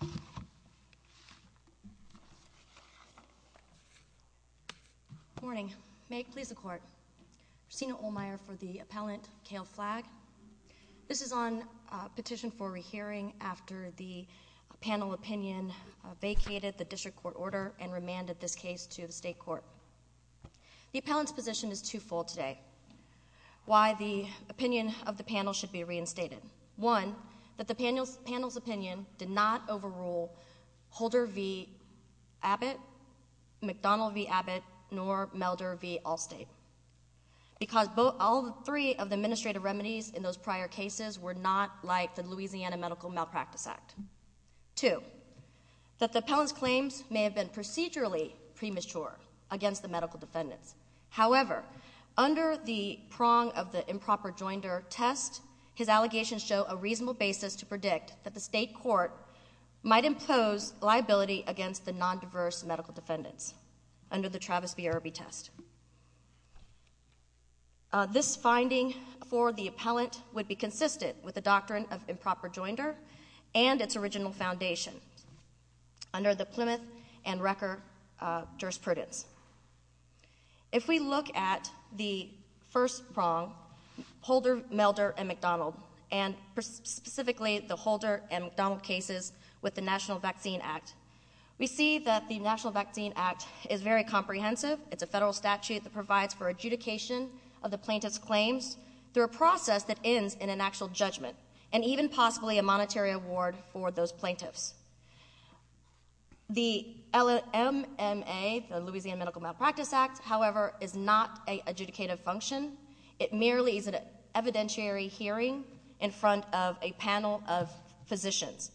Good morning. May it please the court. Christina Ohlmeyer for the appellant, Kale Flagg. This is on a petition for a re-hearing after the panel opinion vacated the district court order and remanded this case to the state court. The appellant's position is twofold today. Why the opinion of the panel should be reinstated. One, that the panel's opinion did not over rule Holder v. Abbott, McDonald v. Abbott, nor Melder v. Allstate. Because all three of the administrative remedies in those prior cases were not like the Louisiana Medical Malpractice Act. Two, that the appellant's claims may have been procedurally premature against the medical defendants. However, under the prong of the improper joinder test, his might impose liability against the non-diverse medical defendants under the Travis B. Irby test. This finding for the appellant would be consistent with the doctrine of improper joinder and its original foundation under the Plymouth and Wrecker jurisprudence. If we look at the first prong, Holder, Melder, and McDonald, and specifically the Holder and McDonald cases with the National Vaccine Act, we see that the National Vaccine Act is very comprehensive. It's a federal statute that provides for adjudication of the plaintiff's claims through a process that ends in an actual judgment, and even possibly a monetary award for those plaintiffs. The LMMA, the Louisiana Medical Malpractice Act, however, is not an evidentiary hearing in front of a panel of physicians.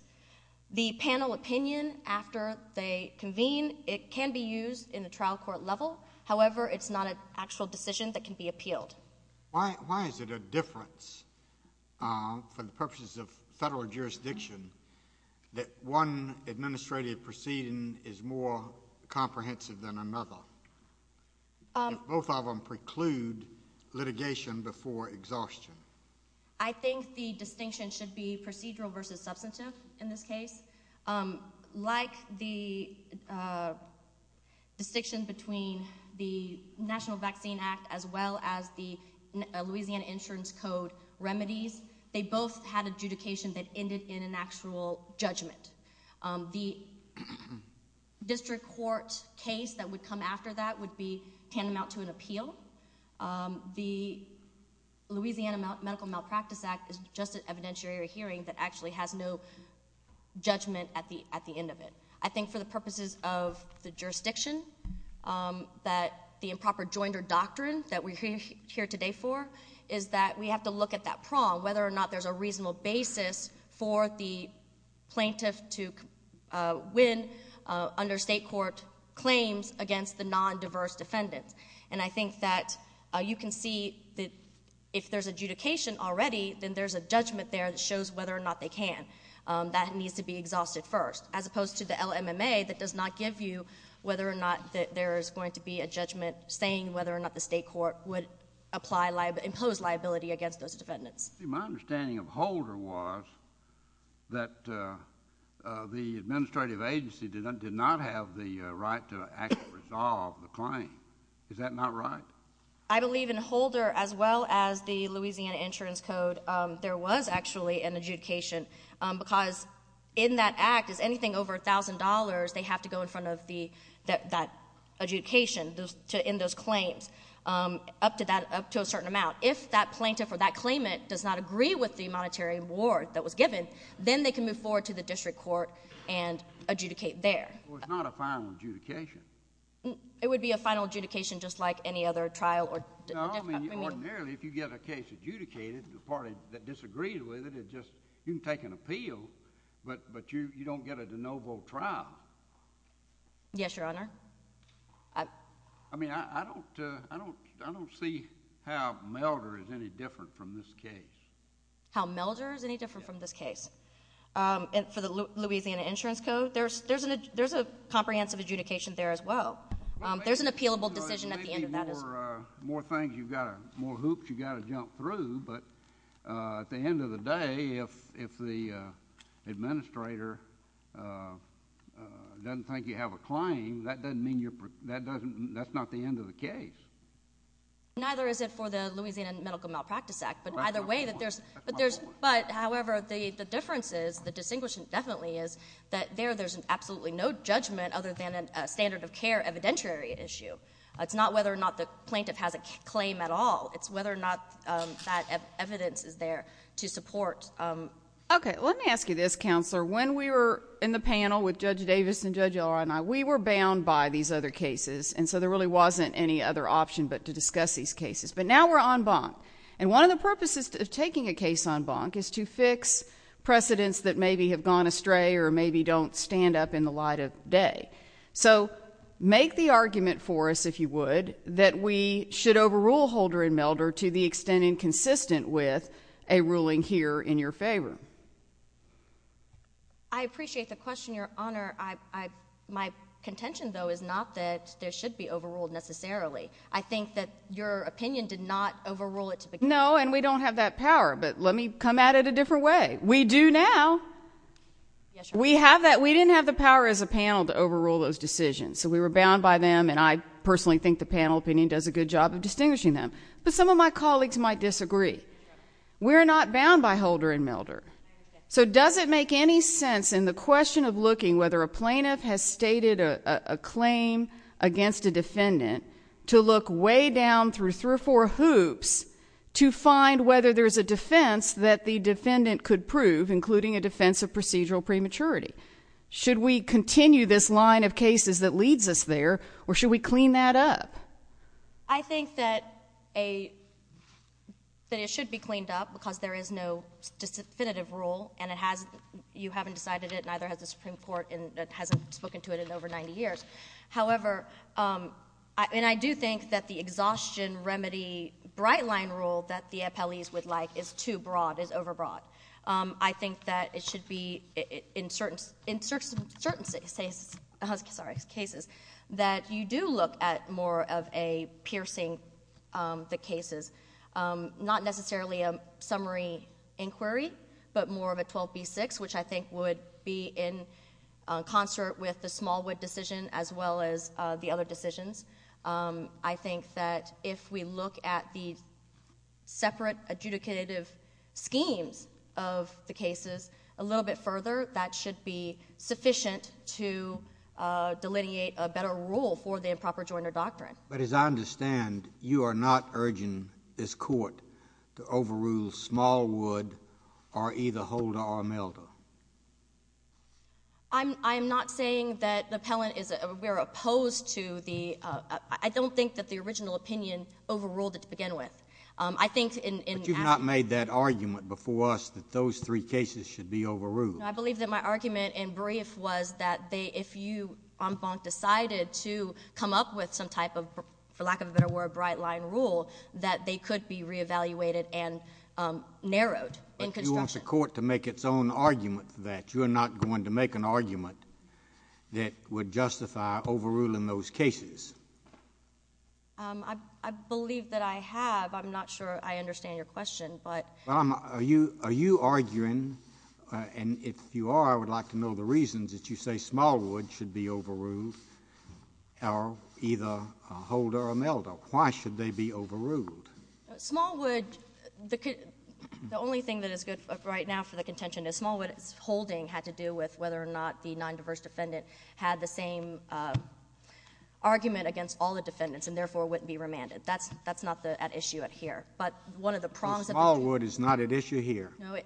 The panel opinion after they convene, it can be used in a trial court level. However, it's not an actual decision that can be appealed. Why is it a difference, for the purposes of federal jurisdiction, that one administrative proceeding is more comprehensive than another, if both of them preclude litigation before exhaustion? I think the distinction should be procedural versus substantive in this case. Like the distinction between the National Vaccine Act as well as the Louisiana Insurance Code remedies, they both had adjudication that ended in an actual judgment. The district court case that would come after that would be tantamount to an appeal. The Louisiana Medical Malpractice Act is just an evidentiary hearing that actually has no judgment at the end of it. I think for the purposes of the jurisdiction, that the improper joinder doctrine that we're here today for is that we have to look at that prong, whether or not there's a reasonable basis for the plaintiff to win under state court claims against the non-diverse defendants. I think that you can see that if there's adjudication already, then there's a judgment there that shows whether or not they can. That needs to be exhausted first, as opposed to the LMMA that does not give you whether or not there's going to be a judgment saying whether or not the state court would impose liability against those defendants. My understanding of Holder was that the administrative agency did not have the right to actually resolve the claim. Is that not right? I believe in Holder, as well as the Louisiana Insurance Code, there was actually an adjudication because in that act, is anything over $1,000, they have to go in front of that adjudication to end those claims up to a certain amount. If that plaintiff or that claimant does not agree with the monetary award that was given, then they can move forward to the district court and adjudicate there. It's not a final adjudication. It would be a final adjudication just like any other trial or... No, I mean, ordinarily, if you get a case adjudicated, the party that disagrees with it, you can take an appeal, but you don't get a de novo trial. Yes, Your Honor. I mean, I don't see how Melder is any different from this case. How Melder is any different from this case. For the Louisiana Insurance Code, there's a comprehensive adjudication there, as well. There's an appealable decision at the end of that as well. More things you've got to, more hoops you've got to jump through, but at the end of the day, if the administrator doesn't think you have a claim, that's not the end of the case. Neither is it for the Louisiana Medical Malpractice Act, but either way, there's... That's my point. That's my point. However, the difference is, the distinguishing definitely is, that there's absolutely no judgment other than a standard of care evidentiary issue. It's not whether or not the plaintiff has a claim at all. It's whether or not that evidence is there to support... Okay. Let me ask you this, Counselor. When we were in the panel with Judge Davis and Judge Elroy and I, we were bound by these other cases, and so there really wasn't any other option but to discuss these cases, but now we're en banc. One of the purposes of taking a case en banc is to fix precedents that maybe have gone astray or maybe don't stand up in the light of day, so make the argument for us, if you would, that we should overrule Holder and Melder to the extent and consistent with a ruling here in your favor. I appreciate the question, Your Honor. My contention, though, is not that there should be overruled necessarily. I think that your opinion did not overrule it to begin with. No, and we don't have that power, but let me come at it a different way. We do now. Yes, Your Honor. We have that. We didn't have the power as a panel to overrule those decisions, so we were bound by them, and I personally think the panel opinion does a good job of distinguishing them, but some of my colleagues might disagree. We're not bound by Holder and Melder, so does it make any sense in the question of looking whether a plaintiff has stated a claim against a defendant to look way down through three or four hoops to find whether there's a defense that the defendant could prove, including a defense of procedural prematurity? Should we continue this line of cases that leads us there, or should we clean that up? I think that it should be cleaned up because there is no definitive rule, and you haven't decided it, and neither has the Supreme Court, and it hasn't spoken to it in over 90 years. However, and I do think that the exhaustion remedy bright-line rule that the appellees would like is too broad, is overbroad. I think that it should be, in certain cases, that you do look at more of a piercing the cases, not necessarily a summary inquiry, but more of a 12B6, which I think would be in concert with the Smallwood decision as well as the other decisions. I think that if we look at the separate adjudicative schemes of the cases a little bit further, that should be sufficient to delineate a better rule for the improper joiner doctrine. But as I understand, you are not urging this Court to overrule Smallwood or either Holder or Melder. I'm not saying that the appellant is—we are opposed to the—I don't think that the original opinion overruled it to begin with. I think in— But you've not made that argument before us that those three cases should be overruled. I believe that my argument in brief was that if you, en banc, decided to come up with some type of, for lack of a better word, bright-line rule, that they could be reevaluated and narrowed in construction. But I don't want the Court to make its own argument for that. You are not going to make an argument that would justify overruling those cases. I believe that I have. I'm not sure I understand your question, but— Are you arguing—and if you are, I would like to know the reasons that you say Smallwood should be overruled or either Holder or Melder. Why should they be overruled? Smallwood—the only thing that is good right now for the contention is Smallwood's holding had to do with whether or not the nondiverse defendant had the same argument against all the defendants and therefore wouldn't be remanded. That's not at issue here. But one of the prongs that— Smallwood is not at issue here. No.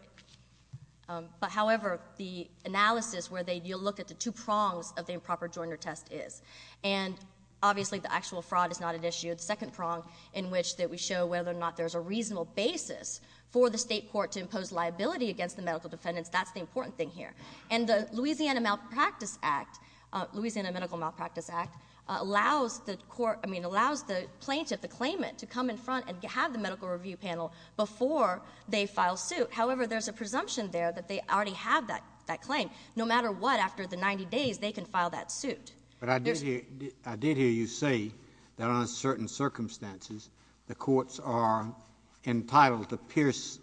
But, however, the analysis where they—you look at the two prongs of the improper jointer test is. And, obviously, the actual fraud is not at issue. The second prong in which that we show whether or not there's a reasonable basis for the state court to impose liability against the medical defendants, that's the important thing here. And the Louisiana Medical Malpractice Act allows the plaintiff, the claimant, to come in front and have the medical review panel before they file suit. However, there's a presumption there that they already have that claim. No matter what, after the 90 days, they can file that suit. But I did hear you say that, under certain circumstances, the courts are entitled to pierce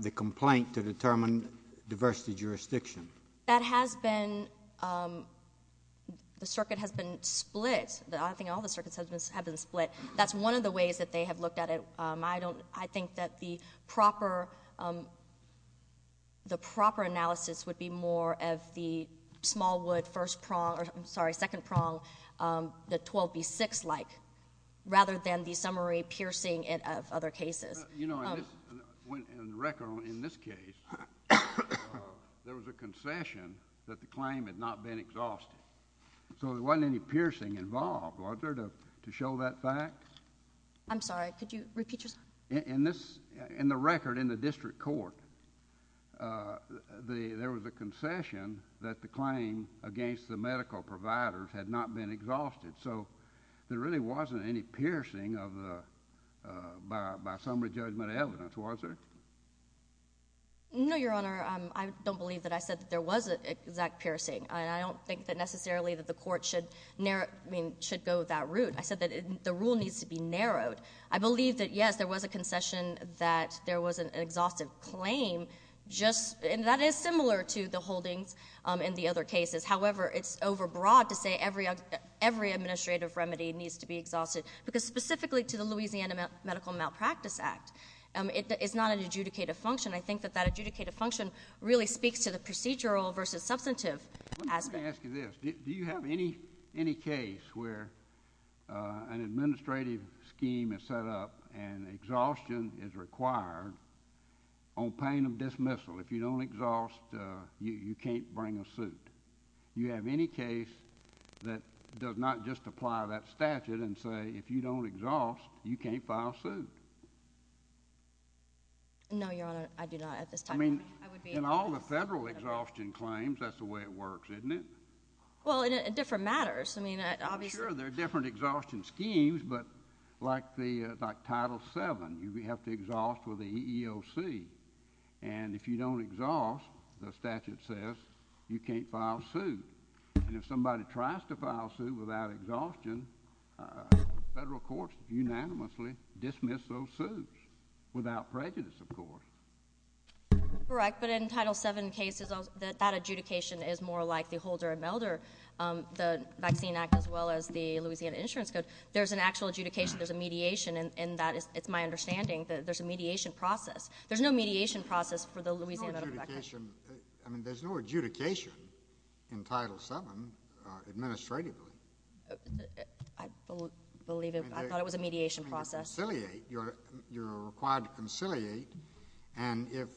the complaint to determine diversity jurisdiction. That has been—the circuit has been split. I think all the circuits have been split. That's one of the ways that they have looked at it. I think that the proper analysis would be more of the Smallwood first prong—or, I'm sorry, second prong, the 12B6-like, rather than the summary piercing of other cases. You know, in this—in the record in this case, there was a concession that the claim had not been exhausted. So there wasn't any piercing involved, was there, to show that fact? I'm sorry. Could you repeat yourself? In this—in the record in the district court, there was a concession that the claim against the medical provider had not been exhausted. So there really wasn't any piercing of the—by summary judgment evidence, was there? No, Your Honor. I don't believe that I said that there was an exact piercing. I don't think that necessarily that the court should narrow—I mean, should go that route. I said that the rule needs to be narrowed. I believe that, yes, there was a concession that there was an exhaustive claim, just—and that is similar to the holdings in the other cases. However, it's overbroad to say every administrative remedy needs to be exhausted, because specifically to the Louisiana Medical Malpractice Act, it's not an adjudicated function. I think that that adjudicated function really speaks to the procedural versus substantive aspect. Let me ask you this. Do you have any case where an administrative scheme is set up and exhaustion is required on pain of dismissal? If you don't exhaust, you can't bring a suit. You have any case that does not just apply that statute and say, if you don't exhaust, you can't file suit? No, Your Honor. I do not at this time. I mean, in all the federal exhaustion claims, that's the way it works, isn't it? Well, in different matters. I mean, obviously— Well, sure, there are different exhaustion schemes, but like Title VII, you have to exhaust with the EEOC. And if you don't exhaust, the statute says you can't file suit. And if somebody tries to file suit without exhaustion, federal courts unanimously dismiss those suits, without prejudice, of course. Correct. But in Title VII cases, that adjudication is more like the Holder and Melder, the Vaccine Act, as well as the Louisiana Insurance Code. There's an actual adjudication. There's a mediation in that. It's my understanding that there's a mediation process. There's no mediation process for the Louisiana Medical Record. There's no adjudication in Title VII, administratively. I believe it. I thought it was a mediation process. You're required to conciliate. And if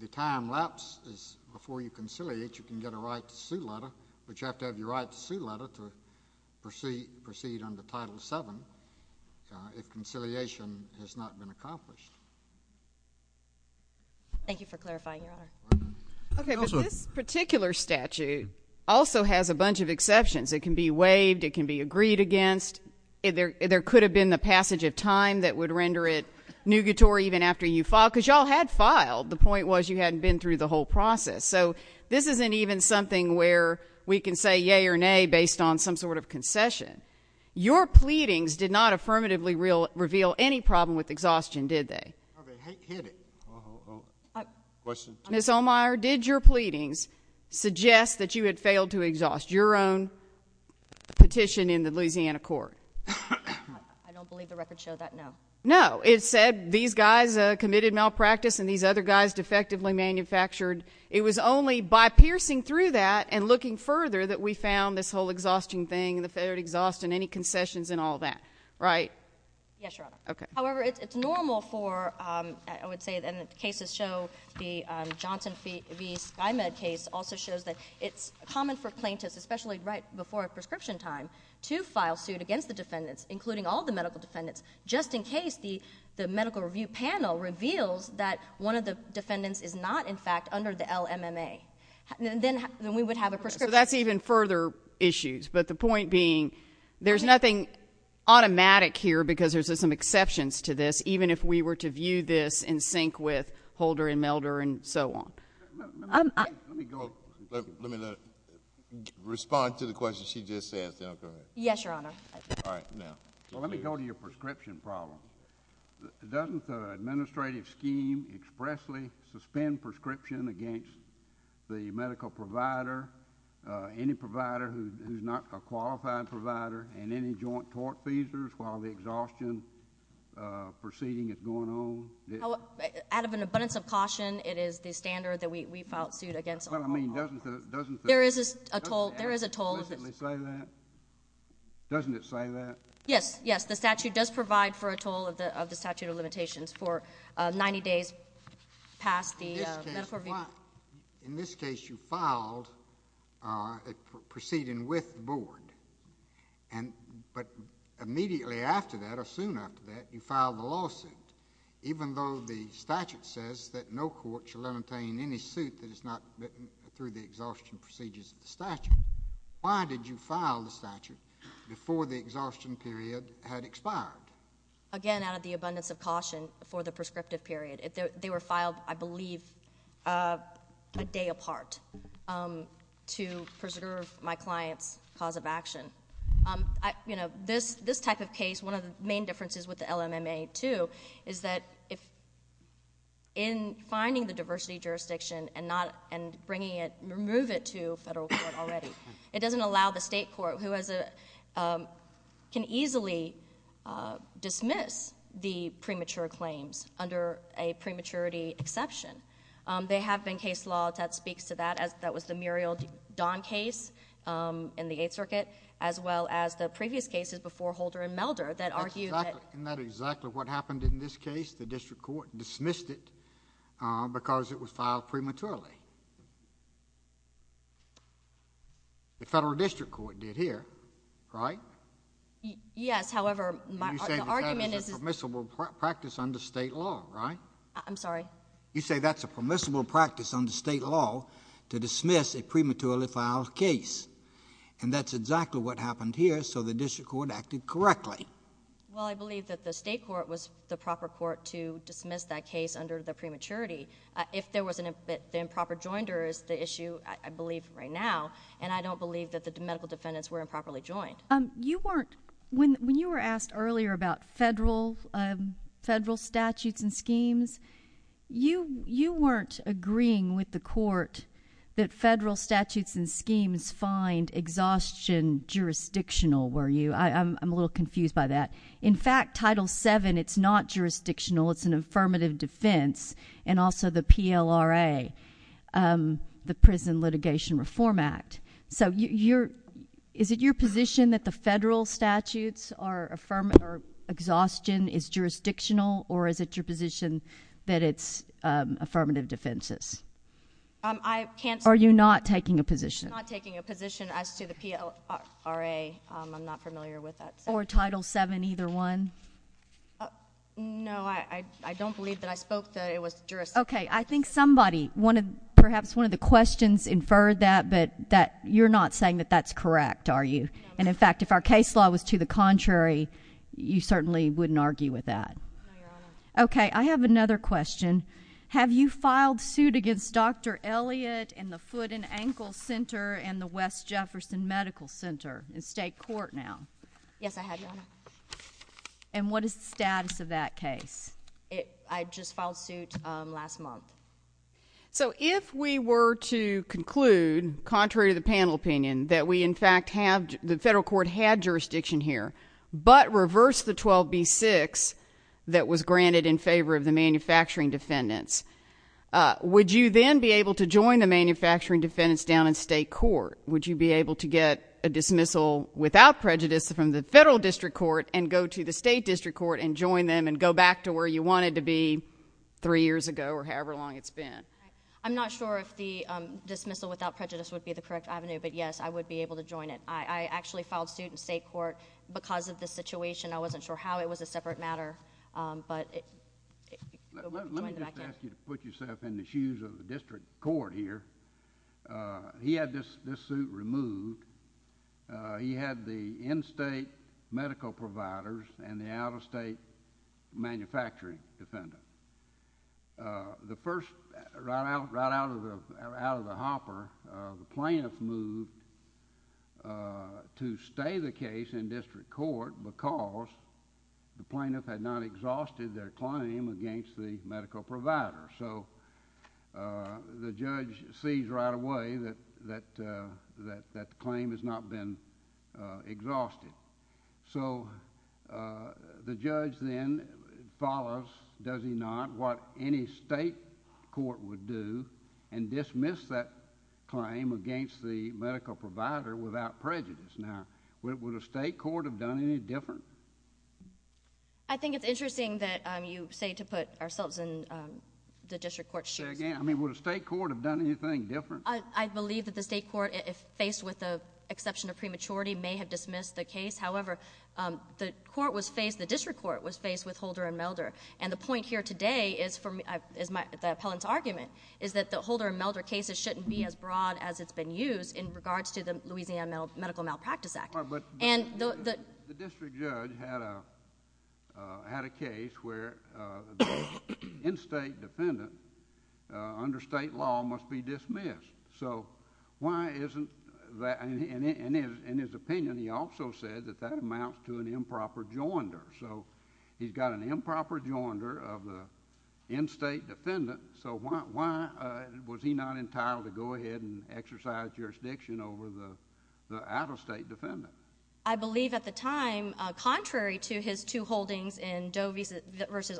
the time lapse is before you conciliate, you can get a right to sue letter, but you have to have your right to sue letter to proceed under Title VII if conciliation has not been accomplished. Thank you for clarifying, Your Honor. Okay, but this particular statute also has a bunch of exceptions. It can be waived. It can be agreed against. There could have been the passage of time that would render it nougatory even after you filed, because y'all had filed. The point was you hadn't been through the whole process. So this isn't even something where we can say yay or nay based on some sort of concession. Your pleadings did not affirmatively reveal any problem with exhaustion, did they? Okay, hit it. Uh-oh. Question two. Ms. Ohlmeyer, did your pleadings suggest that you had failed to exhaust your own petition in the Louisiana court? I don't believe the record showed that, no. No. It said these guys committed malpractice and these other guys defectively manufactured. It was only by piercing through that and looking further that we found this whole exhausting thing and the failure to exhaust and any concessions and all that, right? Yes, Your Honor. Okay. However, it's normal for, I would say, and the cases show, the Johnson v. SkyMed case also shows that it's common for plaintiffs, especially right before a prescription time, to file suit against the defendants, including all the medical defendants, just in case the medical review panel reveals that one of the defendants is not, in fact, under the LMMA. Then we would have a prescription. That's even further issues, but the point being there's nothing automatic here because there's some exceptions to this, even if we were to view this in sync with Holder and Melder and so on. Let me go, let me respond to the question she just asked. Yes, Your Honor. All right, now. Well, let me go to your prescription problem. Doesn't the administrative scheme expressly suspend prescription against the medical provider, any provider who's not a qualified provider, and any joint tort feasors while the exhaustion proceeding is going on? Out of an abundance of caution, it is the standard that we file suit against all the medical providers. Well, I mean, doesn't the... There is a toll. Doesn't it explicitly say that? Doesn't it say that? Yes, yes. The statute does provide for a toll of the statute of limitations for 90 days past the medical review... In this case, you filed a proceeding with the board, but immediately after that or soon after that, you filed the lawsuit, even though the statute says that no court shall entertain any suit that is not written through the exhaustion procedures of the statute. Why did you file the statute before the exhaustion period had expired? Again, out of the abundance of caution for the prescriptive period. They were filed, I believe, a day apart to preserve my client's cause of action. You know, this type of case, one of the main differences with the LMMA, too, is that in finding the diversity jurisdiction and removing it to a federal court already, it doesn't exception. There have been case laws that speaks to that. That was the Muriel Don case in the Eighth Circuit, as well as the previous cases before Holder and Melder that argued that... Isn't that exactly what happened in this case? The district court dismissed it because it was filed prematurely. The federal district court did here, right? Yes. However, my argument is... I'm sorry? You say that's a permissible practice under state law to dismiss a prematurely filed case, and that's exactly what happened here, so the district court acted correctly. Well, I believe that the state court was the proper court to dismiss that case under the prematurity. If there was an improper joinder is the issue, I believe, right now, and I don't believe that the medical defendants were improperly joined. When you were asked earlier about federal statutes and schemes, you weren't agreeing with the court that federal statutes and schemes find exhaustion jurisdictional, were you? I'm a little confused by that. In fact, Title VII, it's not jurisdictional. It's an affirmative defense, and also the PLRA, the Prison Litigation Reform Act. Is it your position that the federal statutes or exhaustion is jurisdictional, or is it your position that it's affirmative defenses? I can't... Are you not taking a position? I'm not taking a position as to the PLRA. I'm not familiar with that section. Or Title VII, either one? No, I don't believe that I spoke that it was jurisdictional. Okay. I think somebody, perhaps one of the questions, inferred that, but you're not saying that that's correct, are you? No, ma'am. And in fact, if our case law was to the contrary, you certainly wouldn't argue with that. No, Your Honor. Okay. I have another question. Have you filed suit against Dr. Elliott and the Foot and Ankle Center and the West Jefferson Medical Center in state court now? Yes, I have, Your Honor. And what is the status of that case? I just filed suit last month. So if we were to conclude, contrary to the panel opinion, that we, in fact, have... the federal court had jurisdiction here, but reversed the 12b-6 that was granted in favor of the manufacturing defendants, would you then be able to join the manufacturing defendants down in state court? Would you be able to get a dismissal without prejudice from the federal district court and go to the state district court and join them and go back to where you wanted to be three years ago or however long it's been? I'm not sure if the dismissal without prejudice would be the correct avenue, but yes, I would be able to join it. I actually filed suit in state court because of the situation. I wasn't sure how it was a separate matter, but... Let me just ask you to put yourself in the shoes of the district court here. He had this suit removed. He had the in-state medical providers and the out-of-state manufacturing defendants. The first... right out of the hopper, the plaintiff moved to stay the case in district court because the plaintiff had not exhausted their claim against the medical provider. The judge sees right away that the claim has not been exhausted. The judge then follows, does he not, what any state court would do and dismiss that claim against the medical provider without prejudice. Would a state court have done any different? I think it's interesting that you say to put ourselves in the district court's shoes. Say again. Would a state court have done anything different? I believe that the state court, if faced with the exception of prematurity, may have dismissed the case. However, the district court was faced with Holder and Melder. The point here today, the appellant's argument, is that the Holder and Melder cases shouldn't be as broad as it's been used in regards to the Louisiana Medical Malpractice Act. The district judge had a case where an in-state defendant under state law must be dismissed. In his opinion, he also said that that amounts to an improper joinder. He's got an improper joinder of the in-state defendant, so why was he not entitled to go ahead and exercise jurisdiction over the out-of-state defendant? I believe at the time, contrary to his two holdings in Doe v.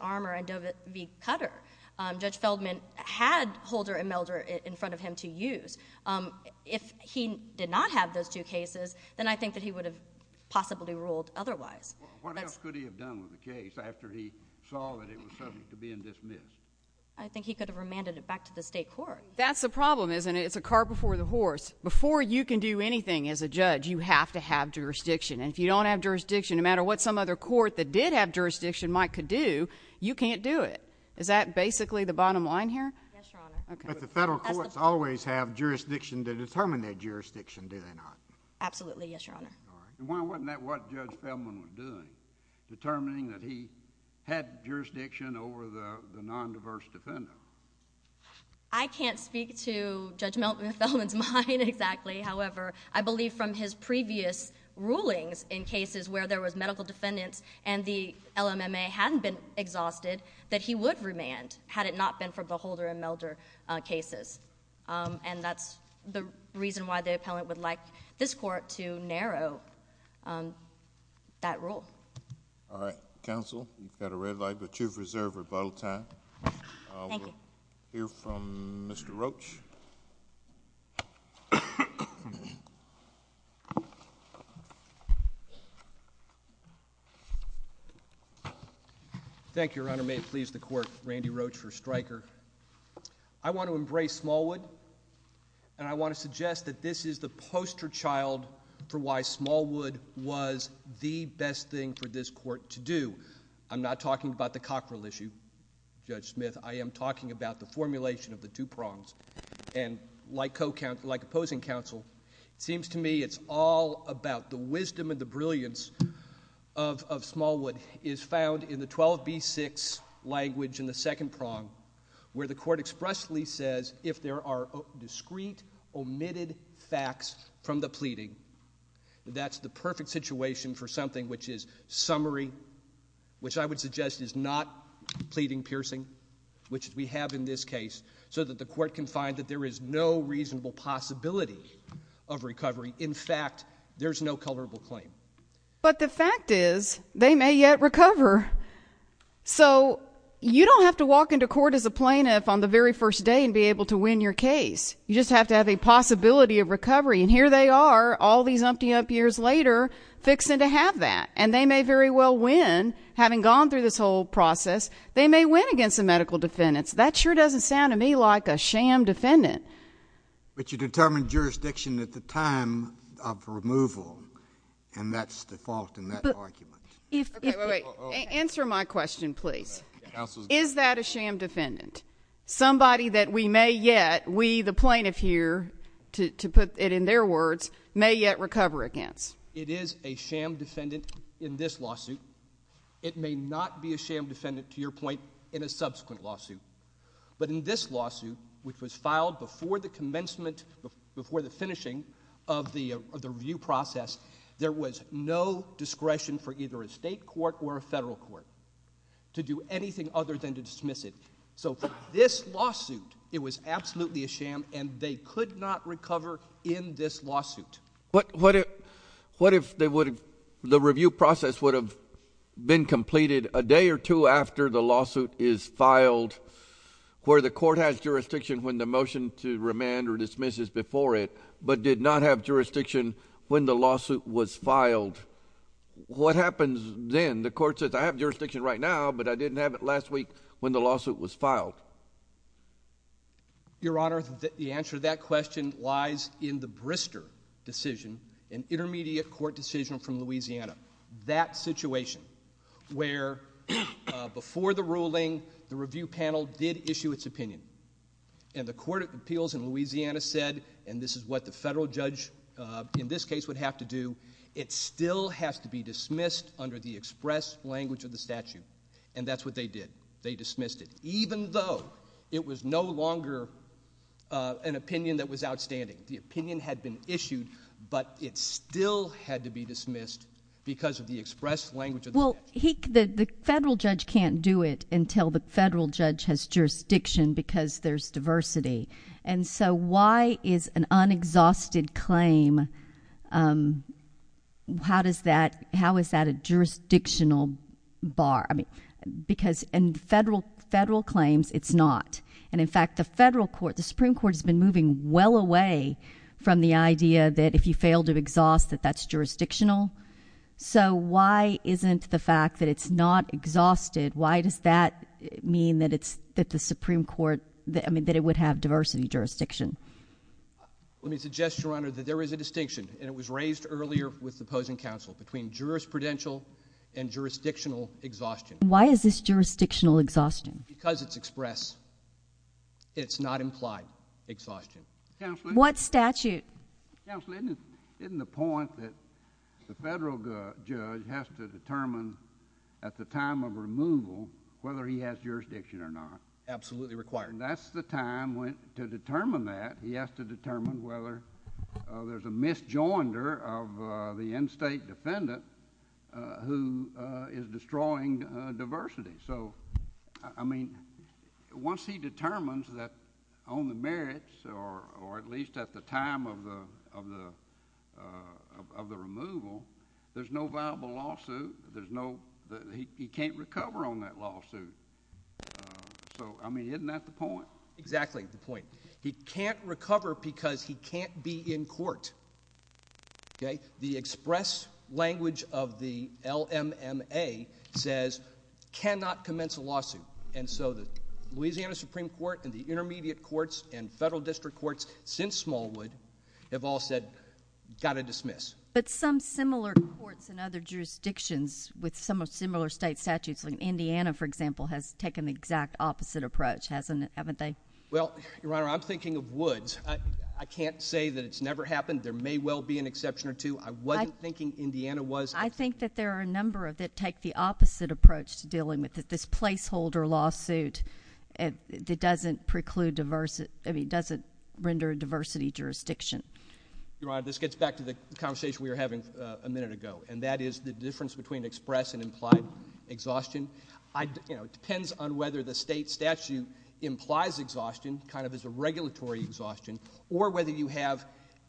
Armour and Doe v. Cutter, Judge Feldman had Holder and Melder in front of him to use. If he did not have those two cases, then I think that he would have possibly ruled otherwise. What else could he have done with the case after he saw that it was subject to being dismissed? I think he could have remanded it back to the state court. That's the problem, isn't it? It's a car before the horse. Before you can do anything as a judge, you have to have jurisdiction. And if you don't have jurisdiction, no matter what some other court that did have jurisdiction might could do, you can't do it. Is that basically the bottom line here? Yes, Your Honor. But the federal courts always have jurisdiction to determine their jurisdiction, do they not? Absolutely, yes, Your Honor. And why wasn't that what Judge Feldman was doing, determining that he had jurisdiction over the nondiverse defendant? I can't speak to Judge Feldman's mind exactly. However, I believe from his previous rulings in cases where there was medical defendants and the LMMA hadn't been exhausted, that he would remand had it not been for the Holder and Melder cases. And that's the reason why the appellant would like this court to narrow that rule. All right. Counsel, you've got a red light, but you've reserved rebuttal time. Thank you. We'll hear from Mr. Roach. Thank you, Your Honor. May it please the Court, Randy Roach for Stryker. I want to embrace Smallwood, and I want to suggest that this is the poster child for why Smallwood was the best thing for this court to do. I'm not talking about the Cockrell issue, Judge Smith. I am talking about the formulation of the two prongs. And like opposing counsel, it seems to me it's all about the wisdom and the brilliance of Smallwood is found in the 12b-6 language in the second prong, where the court expressly says, if there are discrete omitted facts from the pleading, that's the perfect situation for something which is summary, which I would suggest is not pleading piercing, which we have in this case, so that the court can find that there is no reasonable possibility of recovery. In fact, there's no culpable claim. But the fact is, they may yet recover. So you don't have to walk into court as a plaintiff on the very first day and be able to win your case. You just have to have a possibility of recovery. And here they are, all these umpty-ump years later, fixing to have that. And they may very well win, having gone through this whole process. They may win against the medical defendants. That sure doesn't sound to me like a sham defendant. But you determine jurisdiction at the time of removal, and that's the fault in that argument. Wait, wait, wait. Answer my question, please. Is that a sham defendant? Somebody that we may yet, we the plaintiff here, to put it in their words, may yet recover against. It is a sham defendant in this lawsuit. It may not be a sham defendant, to your point, in a subsequent lawsuit. But in this lawsuit, which was filed before the commencement, before the finishing of the review process, there was no discretion for either a state court or a federal court to do anything other than to dismiss it. So this lawsuit, it was absolutely a sham, and they could not recover in this lawsuit. What if the review process would have been completed a day or two after the lawsuit is filed, where the court has jurisdiction when the motion to remand or dismiss is before it, but did not have jurisdiction when the lawsuit was filed? What happens then? The court says, I have jurisdiction right now, but I didn't have it last week when the lawsuit was filed. Your Honor, the answer to that question lies in the Brister decision, an intermediate court decision from Louisiana. That situation where before the ruling, the review panel did issue its opinion, and the court of appeals in Louisiana said, and this is what the federal judge in this case would have to do, it still has to be dismissed under the express language of the statute, and that's what they did. They dismissed it, even though it was no longer an opinion that was outstanding. The opinion had been issued, but it still had to be dismissed because of the express language of the statute. Well, the federal judge can't do it until the federal judge has jurisdiction because there's diversity. And so why is an unexhausted claim, how is that a jurisdictional bar? I mean, because in federal claims, it's not. And in fact, the federal court, the Supreme Court has been moving well away from the idea that if you fail to exhaust, that that's jurisdictional. So why isn't the fact that it's not exhausted, why does that mean that it's, that the Supreme Court, I mean, that it would have diversity jurisdiction? Let me suggest, Your Honor, that there is a distinction, and it was raised earlier with the opposing counsel, between jurisprudential and jurisdictional exhaustion. Why is this jurisdictional exhaustion? Because it's express. It's not implied exhaustion. Counselor? What statute? Counselor, isn't the point that the federal judge has to determine at the time of removal whether he has jurisdiction or not? Absolutely required. That's the time to determine that. He has to determine whether there's a misjoinder of the in-state defendant who is destroying diversity. So, I mean, once he determines that on the merits, or at least at the time of the removal, there's no viable lawsuit. There's no, he can't recover on that lawsuit. So, I mean, isn't that the point? Exactly the point. He can't recover because he can't be in court. Okay? The express language of the LMMA says, cannot commence a lawsuit. And so the Louisiana Supreme Court and the intermediate courts and federal district courts since Smallwood have all said, got to dismiss. But some similar courts in other jurisdictions with some similar state statutes, like Indiana, for example, has taken the exact opposite approach, hasn't it, haven't they? Well, Your Honor, I'm thinking of Woods. I can't say that it's never happened. There may well be an exception or two. I wasn't thinking Indiana was. I think that there are a number that take the opposite approach to dealing with it, this placeholder lawsuit that doesn't preclude, I mean, doesn't render a diversity jurisdiction. Your Honor, this gets back to the conversation we were having a minute ago, and that is the difference between express and implied exhaustion. You know, it depends on whether the state statute implies exhaustion, kind of as a regulatory exhaustion, or whether you have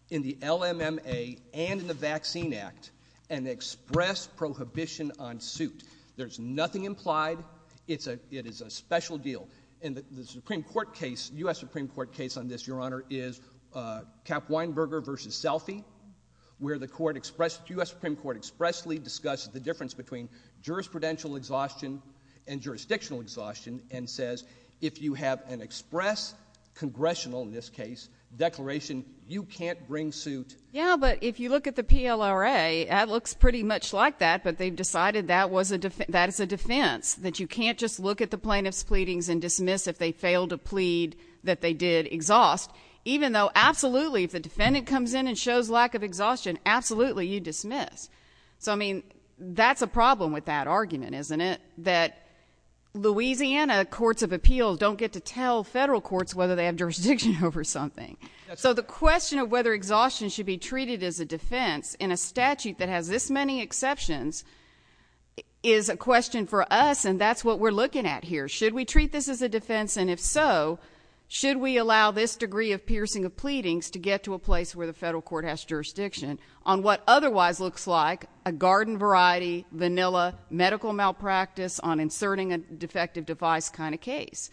in the LMMA and in the Vaccine Act an express prohibition on suit. There's nothing implied. It is a special deal. And the Supreme Court case, U.S. Supreme Court case on this, Your Honor, is Kappweinberger v. Selfie, where the court expressed, U.S. Supreme Court expressly discussed the difference between jurisprudential exhaustion and jurisdictional exhaustion and says if you have an express congressional, in this case, declaration, you can't bring suit. Yeah, but if you look at the PLRA, that looks pretty much like that, but they've decided that is a defense, that you can't just look at the plaintiff's pleadings and dismiss if they fail to plead that they did exhaust, even though absolutely if the defendant comes in and shows lack of exhaustion, absolutely you dismiss. So, I mean, that's a problem with that argument, isn't it, that Louisiana courts of appeals don't get to tell federal courts whether they have jurisdiction over something. So the question of whether exhaustion should be treated as a defense in a statute that has this many exceptions is a question for us, and that's what we're looking at here. Should we treat this as a defense, and if so, should we allow this degree of piercing of pleadings to get to a place where the federal court has jurisdiction on what otherwise looks like a garden variety, vanilla, medical malpractice on inserting a defective device kind of case?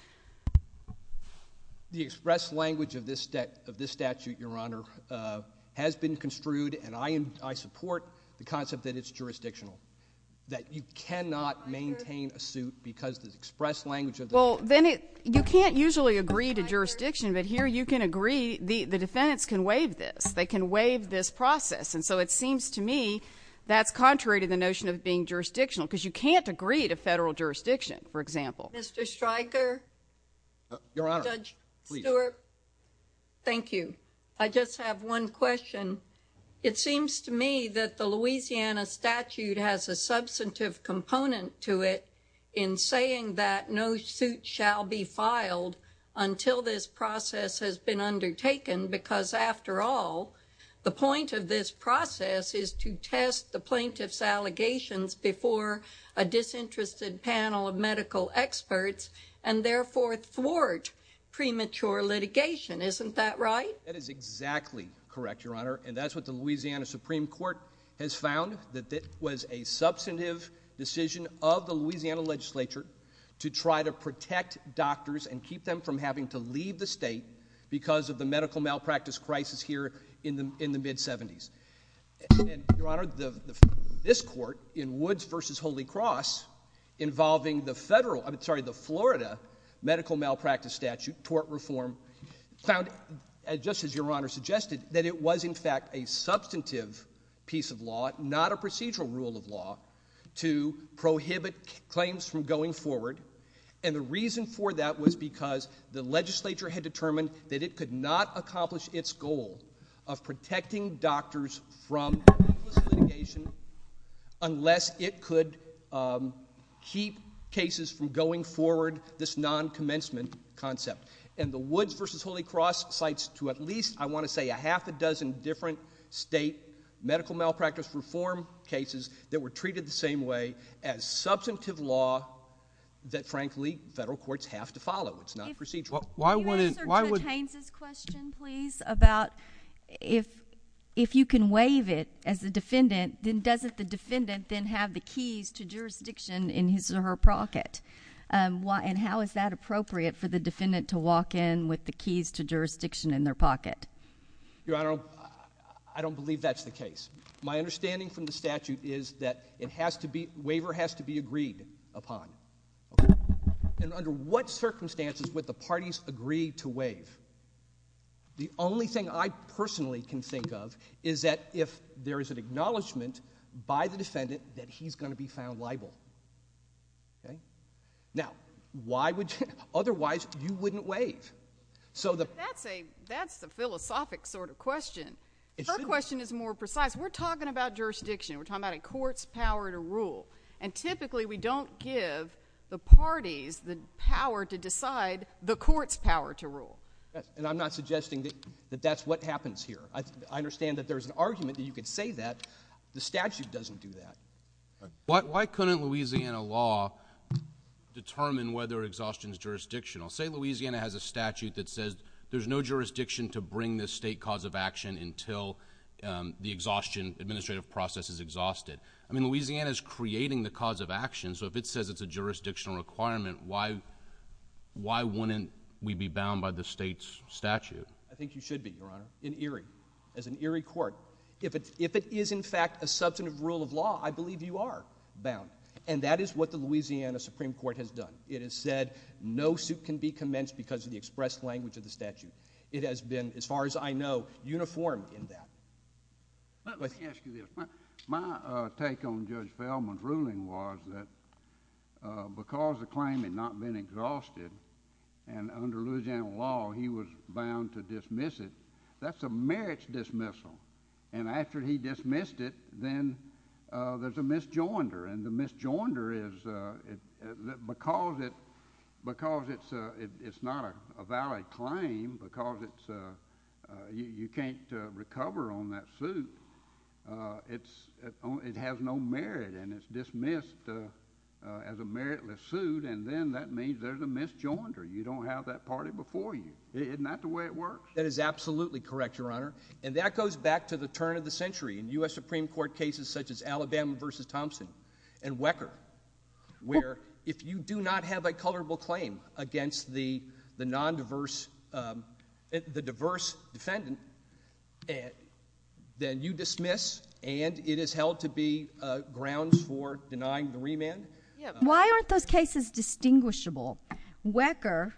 The express language of this statute, Your Honor, has been construed, and I support the concept that it's jurisdictional, that you cannot maintain a suit because the express language of the statute. Well, then you can't usually agree to jurisdiction, but here you can agree the defendants can waive this. They can waive this process, and so it seems to me that's contrary to the notion of being jurisdictional because you can't agree to federal jurisdiction, for example. Mr. Stryker. Your Honor, please. Thank you. I just have one question. It seems to me that the Louisiana statute has a substantive component to it in saying that no suit shall be filed until this process has been undertaken because, after all, the point of this process is to test the plaintiff's allegations before a disinterested panel of medical experts and therefore thwart premature litigation. Isn't that right? That is exactly correct, Your Honor, and that's what the Louisiana Supreme Court has found, that it was a substantive decision of the Louisiana legislature to try to protect doctors and keep them from having to leave the state because of the medical malpractice crisis here in the mid-70s. Your Honor, this court in Woods v. Holy Cross involving the Florida medical malpractice statute, tort reform, found, just as Your Honor suggested, that it was in fact a substantive piece of law, not a procedural rule of law, to prohibit claims from going forward, and the reason for that was because the legislature had determined that it could not accomplish its goal of protecting doctors from litigation unless it could keep cases from going forward, this non-commencement concept. And the Woods v. Holy Cross cites to at least, I want to say, a half a dozen different state medical malpractice reform cases that were treated the same way as substantive law that, frankly, federal courts have to follow. It's not procedural. Can you answer Judge Haines's question, please, about if you can waive it as a defendant, then doesn't the defendant then have the keys to jurisdiction in his or her pocket? And how is that appropriate for the defendant to walk in with the keys to jurisdiction in their pocket? Your Honor, I don't believe that's the case. My understanding from the statute is that it has to be, waiver has to be agreed upon. And under what circumstances would the parties agree to waive? The only thing I personally can think of is that if there is an acknowledgement by the defendant that he's going to be found liable. Now, why would you, otherwise you wouldn't waive. That's a philosophic sort of question. Her question is more precise. We're talking about jurisdiction. We're talking about a court's power to rule. And typically we don't give the parties the power to decide the court's power to rule. And I'm not suggesting that that's what happens here. I understand that there's an argument that you could say that. The statute doesn't do that. Why couldn't Louisiana law determine whether exhaustion is jurisdictional? Say Louisiana has a statute that says there's no jurisdiction to bring this state cause of action until the exhaustion administrative process is exhausted. I mean, Louisiana's creating the cause of action, so if it says it's a jurisdictional requirement, why wouldn't we be bound by the state's statute? I think you should be, Your Honor, in Erie, as an Erie court. If it is in fact a substantive rule of law, I believe you are bound. And that is what the Louisiana Supreme Court has done. It has said no suit can be commenced because of the expressed language of the statute. It has been, as far as I know, uniform in that. Let me ask you this. My take on Judge Feldman's ruling was that because the claim had not been exhausted and under Louisiana law he was bound to dismiss it, that's a merits dismissal. And after he dismissed it, then there's a misjoinder. And the misjoinder is because it's not a valid claim, because you can't recover on that suit, it has no merit. And it's dismissed as a meritless suit, and then that means there's a misjoinder. You don't have that party before you. Isn't that the way it works? That is absolutely correct, Your Honor. And that goes back to the turn of the century in U.S. Supreme Court cases such as Alabama v. Thompson and Wecker, where if you do not have a colorable claim against the non-diverse, the diverse defendant, then you dismiss and it is held to be grounds for denying the remand. Why aren't those cases distinguishable? Wecker,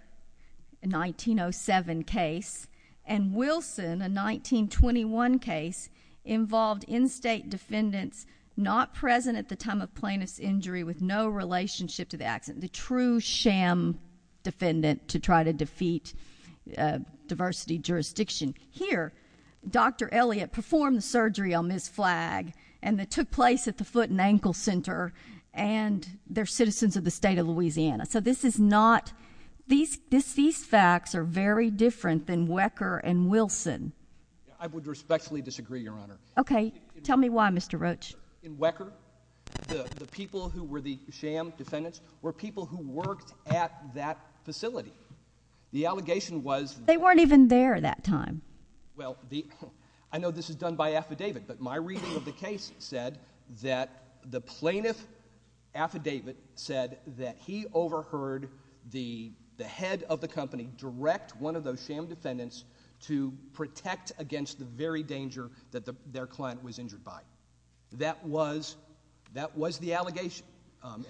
a 1907 case, and Wilson, a 1921 case, involved in-state defendants not present at the time of plaintiff's injury with no relationship to the accident, the true sham defendant to try to defeat diversity jurisdiction. Here, Dr. Elliott performed the surgery on Ms. Flagg, and it took place at the Foot and Ankle Center, and they're citizens of the state of Louisiana. So this is not – these facts are very different than Wecker and Wilson. I would respectfully disagree, Your Honor. Okay. Tell me why, Mr. Roach. In Wecker, the people who were the sham defendants were people who worked at that facility. The allegation was- But they weren't even there that time. Well, the – I know this is done by affidavit, but my reading of the case said that the plaintiff affidavit said that he overheard the head of the company direct one of those sham defendants to protect against the very danger that their client was injured by. That was the allegation,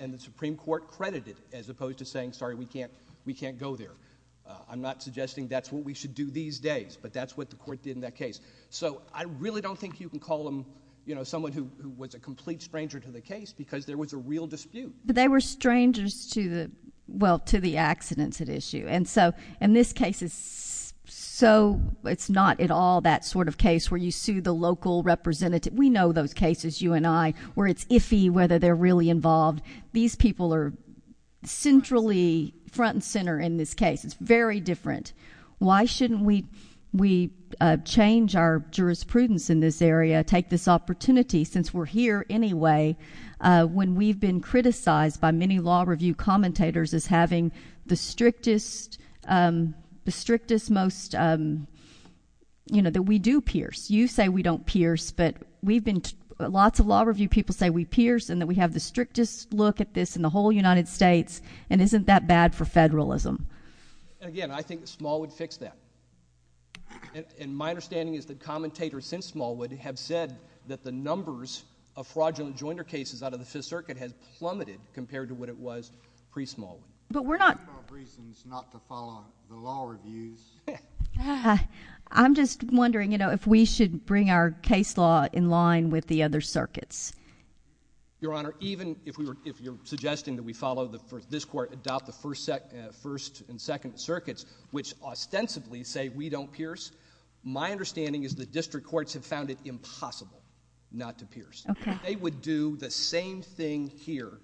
and the Supreme Court credited it as opposed to saying, sorry, we can't go there. I'm not suggesting that's what we should do these days, but that's what the Court did in that case. So I really don't think you can call them, you know, someone who was a complete stranger to the case because there was a real dispute. But they were strangers to the – well, to the accidents at issue. And so – and this case is so – it's not at all that sort of case where you sue the local representative. We know those cases, you and I, where it's iffy whether they're really involved. These people are centrally front and center in this case. It's very different. Why shouldn't we change our jurisprudence in this area, take this opportunity, since we're here anyway, when we've been criticized by many law review commentators as having the strictest most – you know, that we do pierce. You say we don't pierce, but we've been – lots of law review people say we pierce and that we have the strictest look at this in the whole United States, and isn't that bad for federalism? Again, I think Smallwood fixed that. And my understanding is that commentators since Smallwood have said that the numbers of fraudulent jointer cases out of the Fifth Circuit has plummeted compared to what it was pre-Smallwood. But we're not – There are reasons not to follow the law reviews. I'm just wondering, you know, if we should bring our case law in line with the other circuits. Your Honor, even if we were – if you're suggesting that we follow the – this court adopt the First and Second Circuits, which ostensibly say we don't pierce, my understanding is the district courts have found it impossible not to pierce. Okay. They would do the same thing here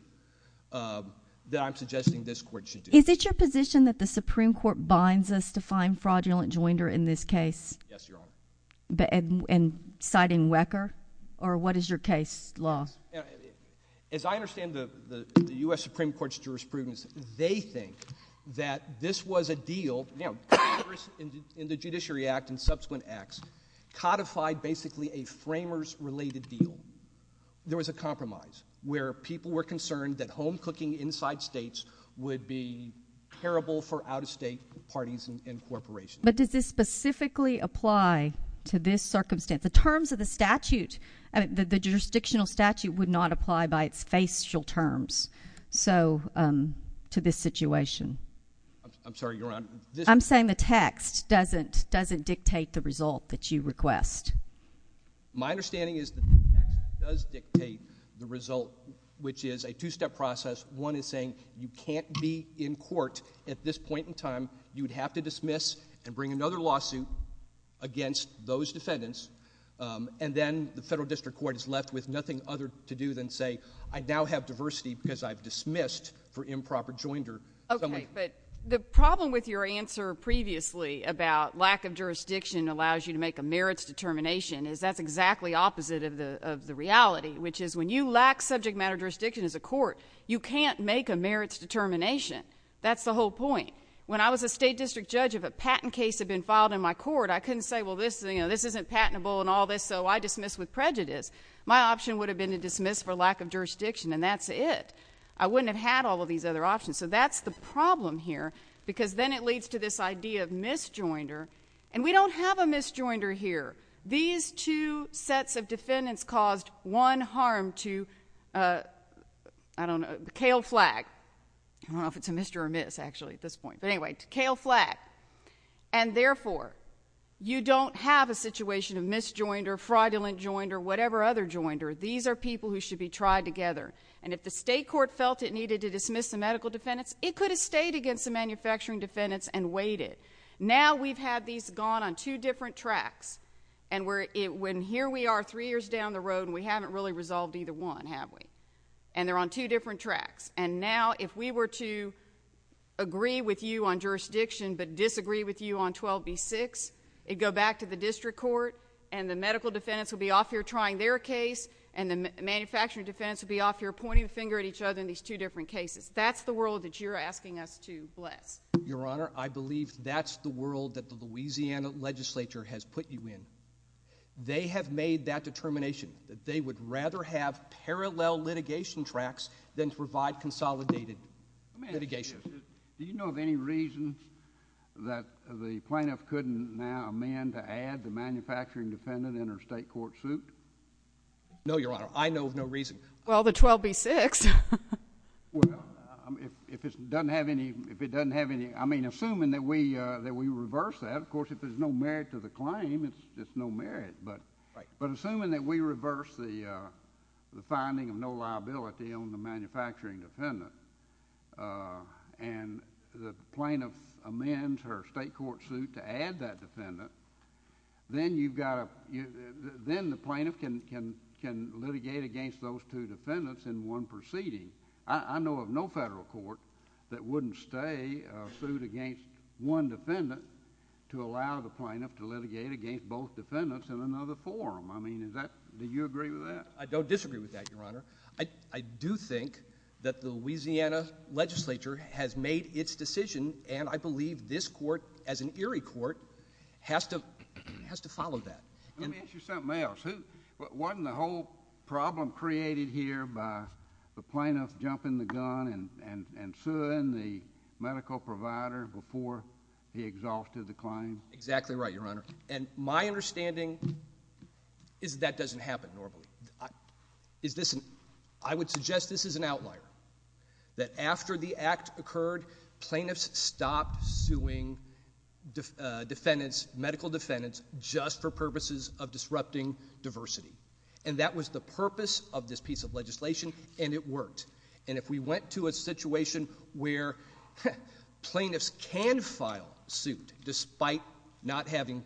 that I'm suggesting this court should do. Is it your position that the Supreme Court binds us to find fraudulent jointer in this case? Yes, Your Honor. And citing Wecker? Or what is your case law? As I understand the U.S. Supreme Court's jurisprudence, they think that this was a deal – you know, Congress in the Judiciary Act and subsequent acts codified basically a framers-related deal. There was a compromise where people were concerned that home cooking inside states would be terrible for out-of-state parties and corporations. But does this specifically apply to this circumstance? The terms of the statute – the jurisdictional statute would not apply by its facial terms, so – to this situation. I'm sorry, Your Honor. I'm saying the text doesn't dictate the result that you request. My understanding is the text does dictate the result, which is a two-step process. One is saying you can't be in court at this point in time. You would have to dismiss and bring another lawsuit against those defendants. And then the federal district court is left with nothing other to do than say I now have diversity because I've dismissed for improper jointer. Okay. But the problem with your answer previously about lack of jurisdiction allows you to make a merits determination is that's exactly opposite of the reality, which is when you lack subject matter jurisdiction as a court, you can't make a merits determination. That's the whole point. When I was a state district judge, if a patent case had been filed in my court, I couldn't say, well, this isn't patentable and all this, so I dismiss with prejudice. My option would have been to dismiss for lack of jurisdiction, and that's it. I wouldn't have had all of these other options. So that's the problem here because then it leads to this idea of misjoinder. And we don't have a misjoinder here. These two sets of defendants caused one harm to, I don't know, the kale flag. I don't know if it's a mister or miss, actually, at this point. But anyway, kale flag. And therefore, you don't have a situation of misjoinder, fraudulent joinder, whatever other joinder. These are people who should be tried together. And if the state court felt it needed to dismiss the medical defendants, it could have stayed against the manufacturing defendants and waited. Now we've had these gone on two different tracks. And here we are three years down the road, and we haven't really resolved either one, have we? And they're on two different tracks. And now if we were to agree with you on jurisdiction but disagree with you on 12B6, it would go back to the district court, and the medical defendants would be off here trying their case, and the manufacturing defendants would be off here pointing the finger at each other in these two different cases. That's the world that you're asking us to bless. Your Honor, I believe that's the world that the Louisiana legislature has put you in. They have made that determination that they would rather have parallel litigation tracks than provide consolidated litigation. Do you know of any reason that the plaintiff couldn't now amend to add the manufacturing defendant in her state court suit? No, Your Honor. I know of no reason. Well, the 12B6. Well, if it doesn't have any ñ I mean, assuming that we reverse that, of course, if there's no merit to the claim, it's no merit. But assuming that we reverse the finding of no liability on the manufacturing defendant and the plaintiff amends her state court suit to add that defendant, then the plaintiff can litigate against those two defendants in one proceeding. I know of no federal court that wouldn't stay a suit against one defendant to allow the plaintiff to litigate against both defendants in another forum. I mean, is that ñ do you agree with that? I don't disagree with that, Your Honor. I do think that the Louisiana legislature has made its decision, and I believe this court, as an Erie court, has to follow that. Let me ask you something else. Wasn't the whole problem created here by the plaintiff jumping the gun and suing the medical provider before he exhausted the claim? Exactly right, Your Honor. And my understanding is that that doesn't happen normally. I would suggest this is an outlier, that after the act occurred, plaintiffs stopped suing defendants, medical defendants, just for purposes of disrupting diversity. And that was the purpose of this piece of legislation, and it worked. And if we went to a situation where plaintiffs can file suit despite not having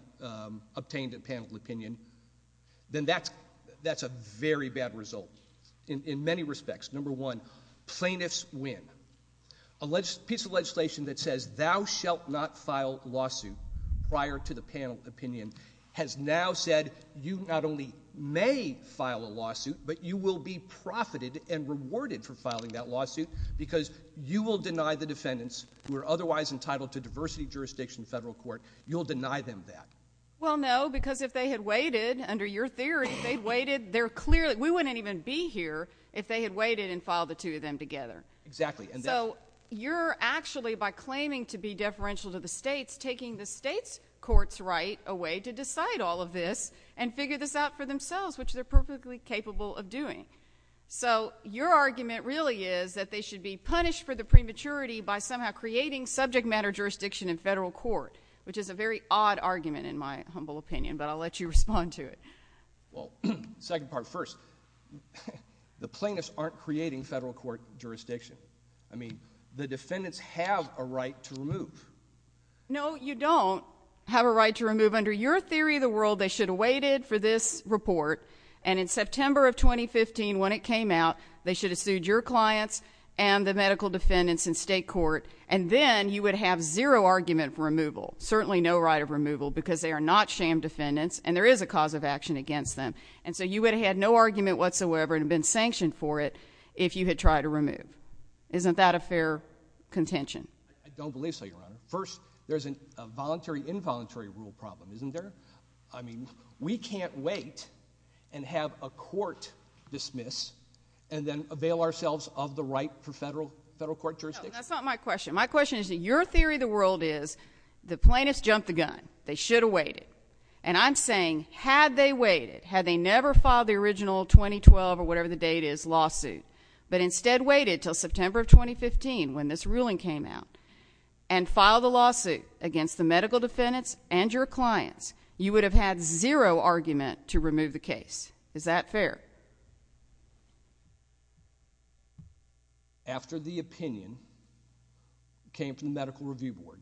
obtained a panel opinion, then that's a very bad result in many respects. Number one, plaintiffs win. A piece of legislation that says thou shalt not file lawsuit prior to the panel opinion has now said you not only may file a lawsuit, but you will be profited and rewarded for filing that lawsuit because you will deny the defendants who are otherwise entitled to diversity jurisdiction in federal court, you'll deny them that. Well, no, because if they had waited, under your theory, if they had waited, we wouldn't even be here if they had waited and filed the two of them together. Exactly. So you're actually, by claiming to be deferential to the states, taking the states' court's right away to decide all of this and figure this out for themselves, which they're perfectly capable of doing. So your argument really is that they should be punished for the prematurity by somehow creating subject matter jurisdiction in federal court, which is a very odd argument in my humble opinion, but I'll let you respond to it. Well, second part first, the plaintiffs aren't creating federal court jurisdiction. I mean, the defendants have a right to remove. No, you don't have a right to remove. So under your theory of the world, they should have waited for this report, and in September of 2015 when it came out, they should have sued your clients and the medical defendants in state court, and then you would have zero argument for removal, certainly no right of removal because they are not sham defendants and there is a cause of action against them. And so you would have had no argument whatsoever and been sanctioned for it if you had tried to remove. Isn't that a fair contention? I don't believe so, Your Honor. First, there's a voluntary-involuntary rule problem, isn't there? I mean, we can't wait and have a court dismiss and then avail ourselves of the right for federal court jurisdiction. No, that's not my question. My question is that your theory of the world is the plaintiffs jumped the gun. They should have waited. And I'm saying had they waited, had they never filed the original 2012 or whatever the date is lawsuit, but instead waited until September of 2015 when this ruling came out and filed the lawsuit against the medical defendants and your clients, you would have had zero argument to remove the case. Is that fair? After the opinion came from the Medical Review Board,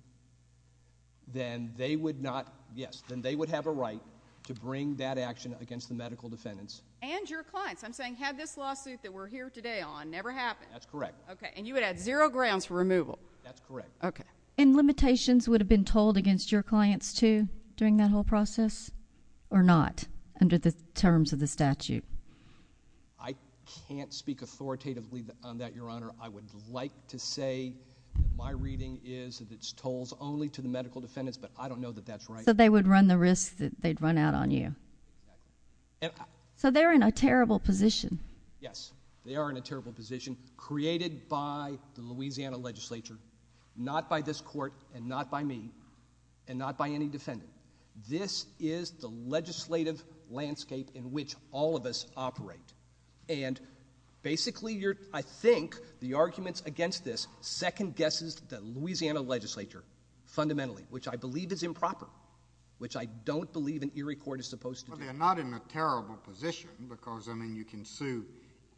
then they would have a right to bring that action against the medical defendants. And your clients. I'm saying had this lawsuit that we're here today on never happened. That's correct. Okay. And you would have had zero grounds for removal. That's correct. Okay. And limitations would have been told against your clients too during that whole process or not under the terms of the statute? I can't speak authoritatively on that, Your Honor. I would like to say my reading is that it's told only to the medical defendants, but I don't know that that's right. So they would run the risk that they'd run out on you. So they're in a terrible position. Yes. They are in a terrible position. Created by the Louisiana legislature, not by this court, and not by me, and not by any defendant. This is the legislative landscape in which all of us operate. And basically I think the arguments against this second guesses the Louisiana legislature fundamentally, which I believe is improper, which I don't believe an Erie court is supposed to do. Well, they're not in a terrible position because, I mean, you can sue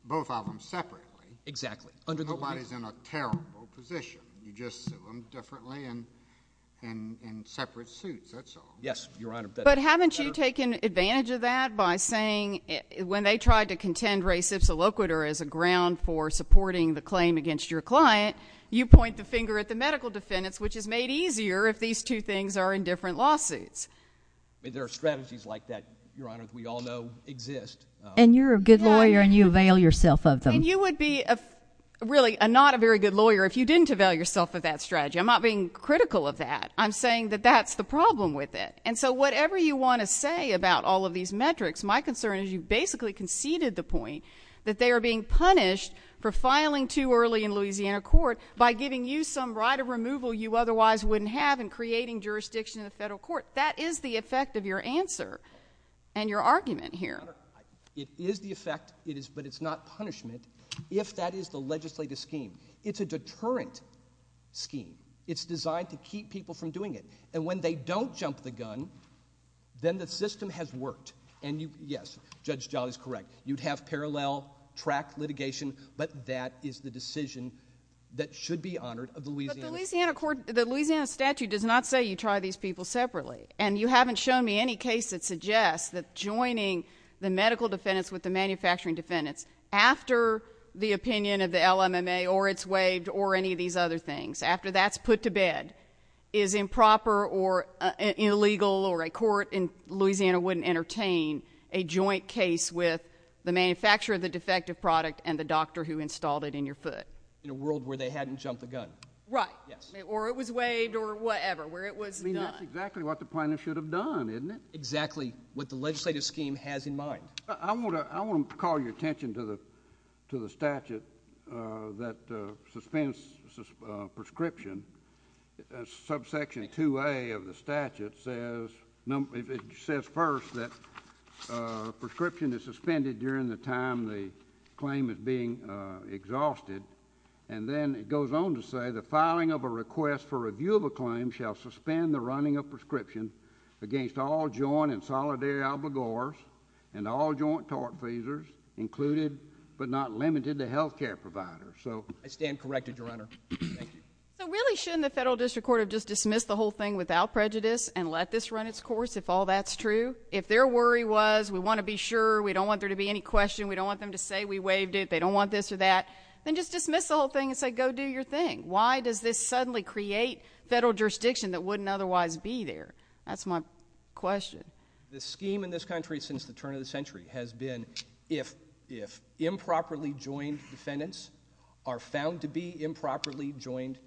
both of them separately. Exactly. Nobody's in a terrible position. You just sue them differently and in separate suits. That's all. Yes, Your Honor. But haven't you taken advantage of that by saying when they tried to contend res ipsa loquitur as a ground for supporting the claim against your client, you point the finger at the medical defendants, which is made easier if these two things are in different lawsuits. There are strategies like that, Your Honor, we all know exist. And you're a good lawyer and you avail yourself of them. I mean, you would be really not a very good lawyer if you didn't avail yourself of that strategy. I'm not being critical of that. I'm saying that that's the problem with it. And so whatever you want to say about all of these metrics, my concern is you basically conceded the point that they are being punished for filing too early in Louisiana court by giving you some right of removal you otherwise wouldn't have and creating jurisdiction in the federal court. That is the effect of your answer and your argument here. It is the effect, but it's not punishment if that is the legislative scheme. It's a deterrent scheme. It's designed to keep people from doing it. And when they don't jump the gun, then the system has worked. And yes, Judge Jolly is correct. You'd have parallel track litigation, but that is the decision that should be honored of the Louisiana. But the Louisiana statute does not say you try these people separately. And you haven't shown me any case that suggests that joining the medical defendants with the manufacturing defendants after the opinion of the LMMA or it's waived or any of these other things, after that's put to bed, is improper or illegal or a court in Louisiana wouldn't entertain a joint case with the manufacturer of the defective product and the doctor who installed it in your foot. In a world where they hadn't jumped the gun. Right. Or it was waived or whatever, where it was not. I mean, that's exactly what the plaintiff should have done, isn't it? Exactly what the legislative scheme has in mind. I want to call your attention to the statute that suspends prescription. Subsection 2A of the statute says first that prescription is suspended during the time the claim is being exhausted. And then it goes on to say the filing of a request for review of a claim shall suspend the running of prescription against all joint and solidary obligors and all joint tort pleasers included but not limited to health care providers. I stand corrected, Your Honor. So really shouldn't the federal district court have just dismissed the whole thing without prejudice and let this run its course if all that's true? If their worry was we want to be sure, we don't want there to be any question, we don't want them to say we waived it, they don't want this or that, then just dismiss the whole thing and say go do your thing. Why does this suddenly create federal jurisdiction that wouldn't otherwise be there? That's my question. The scheme in this country since the turn of the century has been if improperly joined defendants are found to be improperly joined,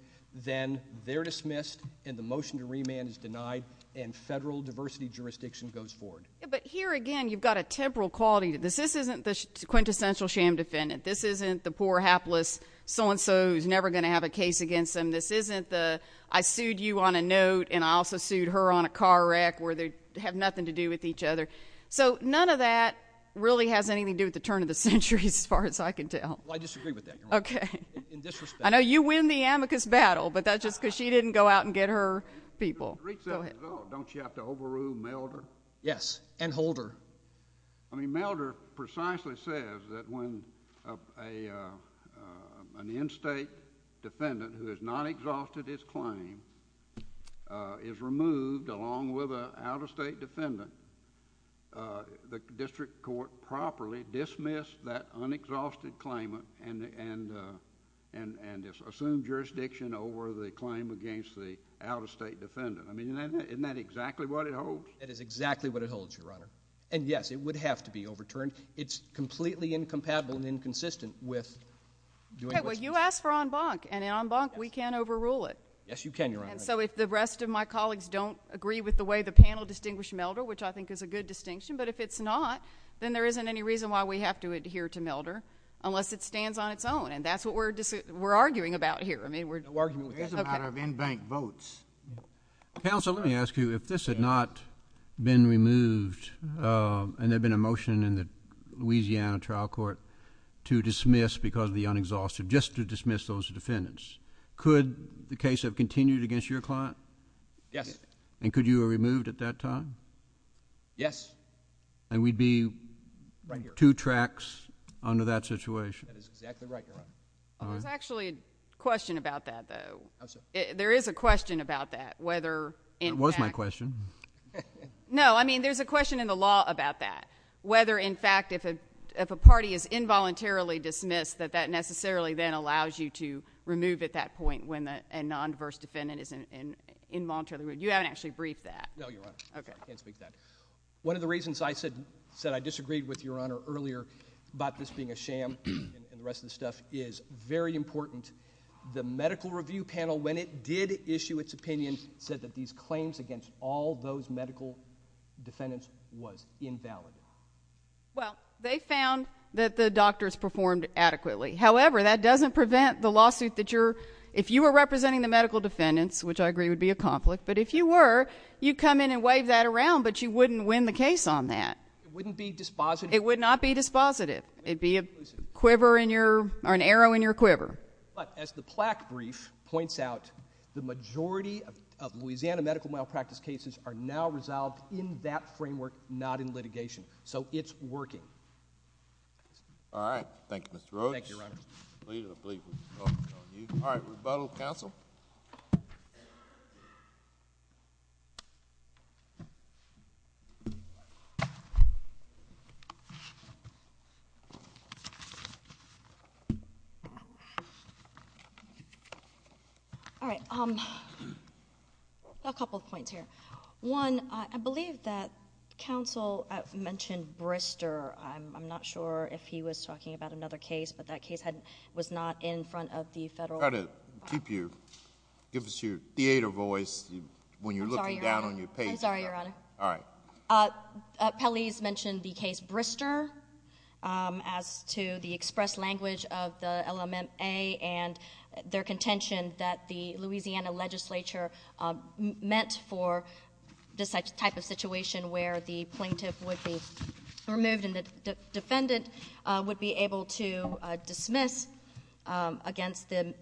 then they're dismissed and the motion to remand is denied and federal diversity jurisdiction goes forward. But here again you've got a temporal quality to this. This isn't the quintessential sham defendant. This isn't the poor hapless so-and-so who's never going to have a case against them. This isn't the I sued you on a note and I also sued her on a car wreck where they have nothing to do with each other. So none of that really has anything to do with the turn of the century as far as I can tell. Well, I disagree with that, Your Honor. Okay. In this respect. I know you win the amicus battle, but that's just because she didn't go out and get her people. Go ahead. Don't you have to overrule Milder? Yes, and Holder. I mean Milder precisely says that when an in-state defendant who has not exhausted his claim is removed along with an out-of-state defendant, the district court properly dismissed that unexhausted claimant and assumed jurisdiction over the claim against the out-of-state defendant. I mean isn't that exactly what it holds? That is exactly what it holds, Your Honor. And, yes, it would have to be overturned. It's completely incompatible and inconsistent with doing what's necessary. Okay. Well, you asked for en banc, and in en banc we can't overrule it. Yes, you can, Your Honor. And so if the rest of my colleagues don't agree with the way the panel distinguished Milder, which I think is a good distinction, but if it's not, then there isn't any reason why we have to adhere to Milder unless it stands on its own, and that's what we're arguing about here. There is a matter of in-bank votes. Counsel, let me ask you, if this had not been removed and there had been a motion in the Louisiana trial court to dismiss because of the unexhausted, just to dismiss those defendants, could the case have continued against your client? Yes. And could you have removed at that time? Yes. And we'd be two tracks under that situation. That is exactly right, Your Honor. There's actually a question about that, though. There is a question about that, whether in fact— It was my question. No, I mean there's a question in the law about that, whether in fact if a party is involuntarily dismissed, that that necessarily then allows you to remove at that point when a non-diverse defendant is involuntarily removed. You haven't actually briefed that. No, Your Honor. Okay. I can't speak to that. One of the reasons I said I disagreed with Your Honor earlier about this being a sham and the rest of this stuff is very important. The medical review panel, when it did issue its opinion, said that these claims against all those medical defendants was invalid. Well, they found that the doctors performed adequately. However, that doesn't prevent the lawsuit that you're— if you were representing the medical defendants, which I agree would be a conflict, but if you were, you'd come in and wave that around, but you wouldn't win the case on that. It wouldn't be dispositive. It would not be dispositive. It'd be a quiver in your—or an arrow in your quiver. But as the plaque brief points out, the majority of Louisiana medical malpractice cases are now resolved in that framework, not in litigation. So it's working. All right. Thank you, Your Honor. All right. Rebuttal, counsel? All right. A couple of points here. One, I believe that counsel mentioned Brister. I'm not sure if he was talking about another case, but that case was not in front of the federal— Try to keep your—give us your theater voice when you're looking down on your page. I'm sorry, Your Honor. All right. Pelley's mentioned the case Brister as to the express language of the LMMA and their contention that the Louisiana legislature meant for this type of situation where the plaintiff would be removed and the defendant would be able to dismiss against the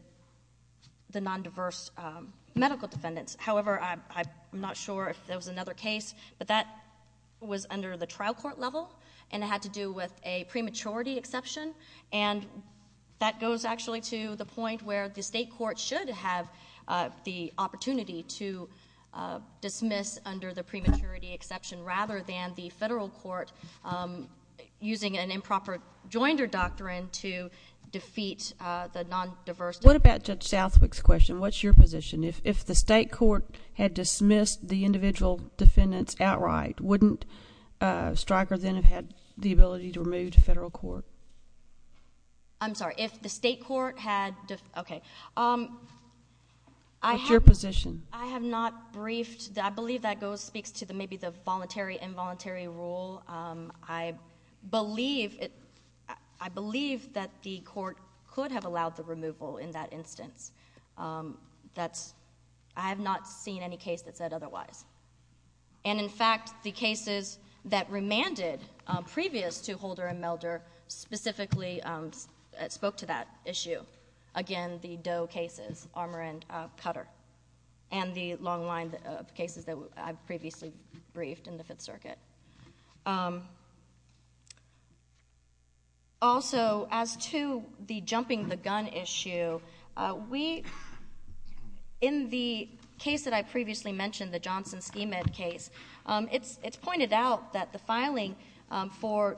nondiverse medical defendants. However, I'm not sure if there was another case, but that was under the trial court level and it had to do with a prematurity exception. And that goes actually to the point where the state court should have the opportunity to dismiss under the prematurity exception rather than the federal court using an improper joinder doctrine to defeat the nondiverse— What about Judge Southwick's question? What's your position? If the state court had dismissed the individual defendants outright, wouldn't Stryker then have had the ability to remove the federal court? I'm sorry. If the state court had— Okay. What's your position? I have not briefed. I believe that speaks to maybe the voluntary-involuntary rule. I believe that the court could have allowed the removal in that instance. I have not seen any case that said otherwise. And in fact, the cases that remanded previous to Holder and Melder specifically spoke to that issue. Again, the Doe cases, Armour and Cutter, and the long line of cases that I previously briefed in the Fifth Circuit. Also, as to the jumping-the-gun issue, in the case that I previously mentioned, the Johnson-Schemidt case, it's pointed out that the filing for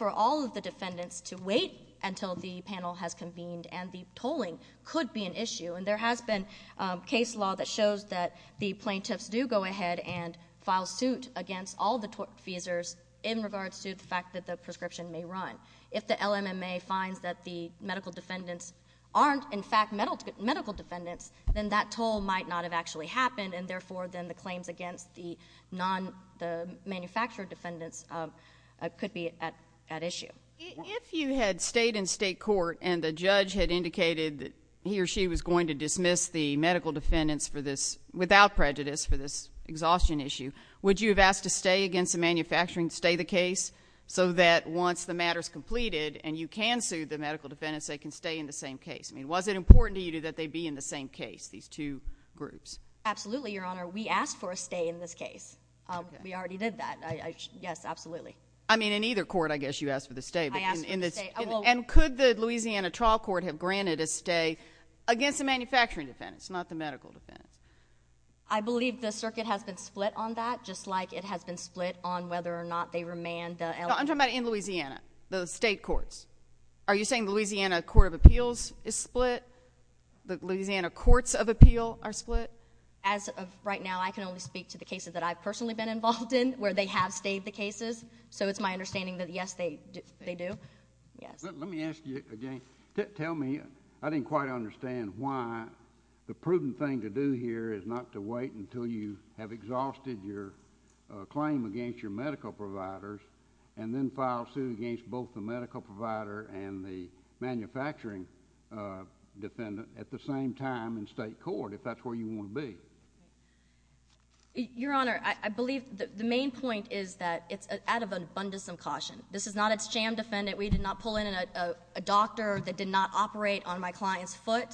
all of the defendants to wait until the panel has convened and the tolling could be an issue. And there has been case law that shows that the plaintiffs do go ahead and file suit against all the feasors in regards to the fact that the prescription may run. If the LMMA finds that the medical defendants aren't in fact medical defendants, then that toll might not have actually happened, and therefore then the claims against the manufacturer defendants could be at issue. If you had stayed in state court and the judge had indicated that he or she was going to dismiss the medical defendants without prejudice for this exhaustion issue, would you have asked to stay against the manufacturing, stay the case, so that once the matter is completed and you can sue the medical defendants, they can stay in the same case? Was it important to you that they be in the same case, these two groups? Absolutely, Your Honor. We asked for a stay in this case. We already did that. Yes, absolutely. I mean, in either court, I guess you asked for the stay. I asked for the stay. And could the Louisiana trial court have granted a stay against the manufacturing defendants, not the medical defendants? I believe the circuit has been split on that, just like it has been split on whether or not they remand the LMMA. No, I'm talking about in Louisiana, the state courts. Are you saying the Louisiana Court of Appeals is split? The Louisiana Courts of Appeal are split? As of right now, I can only speak to the cases that I've personally been involved in where they have stayed the cases, so it's my understanding that, yes, they do. Let me ask you again. Tell me, I didn't quite understand why the prudent thing to do here is not to wait until you have exhausted your claim against your medical providers and then file a suit against both the medical provider and the manufacturing defendant at the same time in state court, if that's where you want to be. Your Honor, I believe the main point is that it's out of an abundance of caution. This is not a sham defendant. We did not pull in a doctor that did not operate on my client's foot.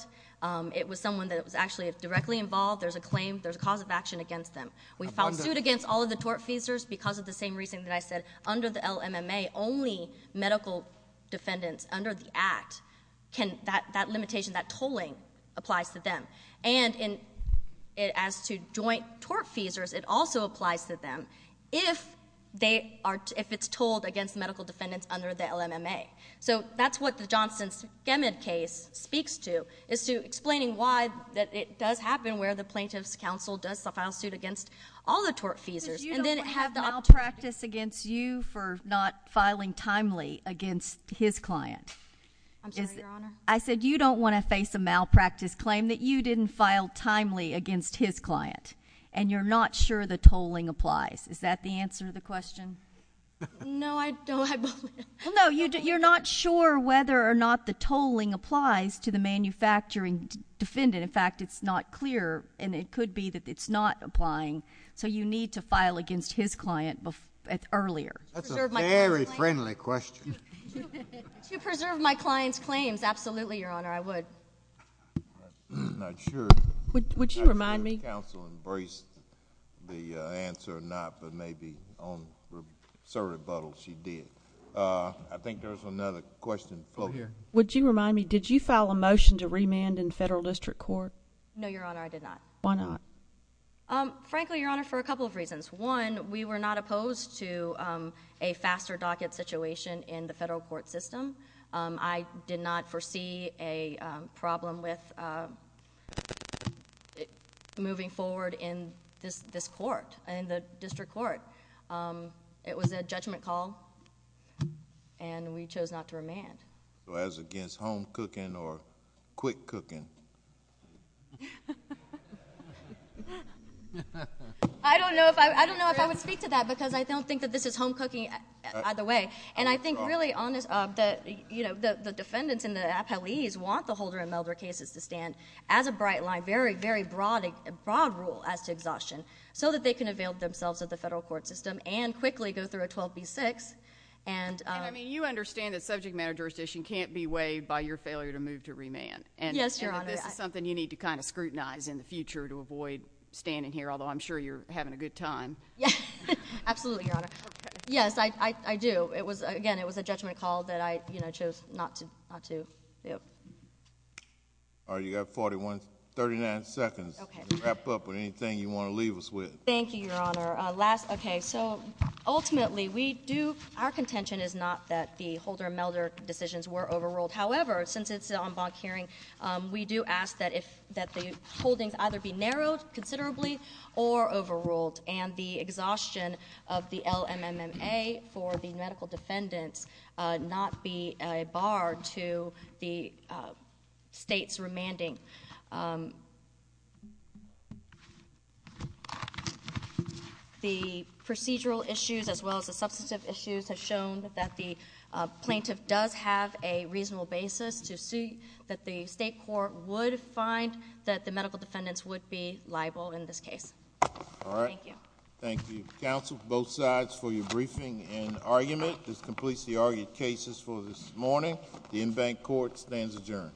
It was someone that was actually directly involved. There's a claim, there's a cause of action against them. We filed suit against all of the tort feasors because of the same reason that I said. Under the LMMA, only medical defendants under the Act, that limitation, that tolling applies to them. And as to joint tort feasors, it also applies to them if it's tolled against medical defendants under the LMMA. So that's what the Johnson-Schemidt case speaks to, is to explaining why it does happen where the plaintiff's counsel does file suit against all the tort feasors. Because you don't want to have malpractice against you I'm sorry, Your Honor? I said you don't want to face a malpractice claim that you didn't file timely against his client, and you're not sure the tolling applies. Is that the answer to the question? No, I don't. No, you're not sure whether or not the tolling applies to the manufacturing defendant. In fact, it's not clear, and it could be that it's not applying. So you need to file against his client earlier. That's a very friendly question. Would you preserve my client's claims? Absolutely, Your Honor, I would. I'm not sure. Would you remind me? I'm not sure the counsel embraced the answer or not, but maybe on some rebuttals she did. I think there's another question over here. Would you remind me, did you file a motion to remand in federal district court? No, Your Honor, I did not. Why not? Frankly, Your Honor, for a couple of reasons. One, we were not opposed to a faster docket situation in the federal court system. I did not foresee a problem with moving forward in this court, in the district court. It was a judgment call, and we chose not to remand. So as against home cooking or quick cooking? I don't know if I would speak to that, because I don't think that this is home cooking either way. And I think really the defendants in the appellees want the Holder and Melder cases to stand as a bright line, very, very broad rule as to exhaustion, so that they can avail themselves of the federal court system and quickly go through a 12B6. And you understand that subject matter jurisdiction can't be weighed by your failure to move to remand. Yes, Your Honor. And this is something you need to kind of scrutinize in the future to avoid standing here, although I'm sure you're having a good time. Absolutely, Your Honor. Yes, I do. Again, it was a judgment call that I chose not to do. All right, you've got 39 seconds to wrap up with anything you want to leave us with. Thank you, Your Honor. Okay, so ultimately we do ‑‑ our contention is not that the Holder and Melder decisions were overruled. However, since it's an en banc hearing, we do ask that the holdings either be narrowed considerably or overruled, and the exhaustion of the LMMMA for the medical defendants not be a bar to the state's remanding. The procedural issues as well as the substantive issues have shown that the plaintiff does have a reasonable basis to see that the state court would find that the medical defendants would be liable in this case. All right. Thank you. Thank you, counsel, both sides, for your briefing and argument. This completes the argued cases for this morning. The en banc court stands adjourned.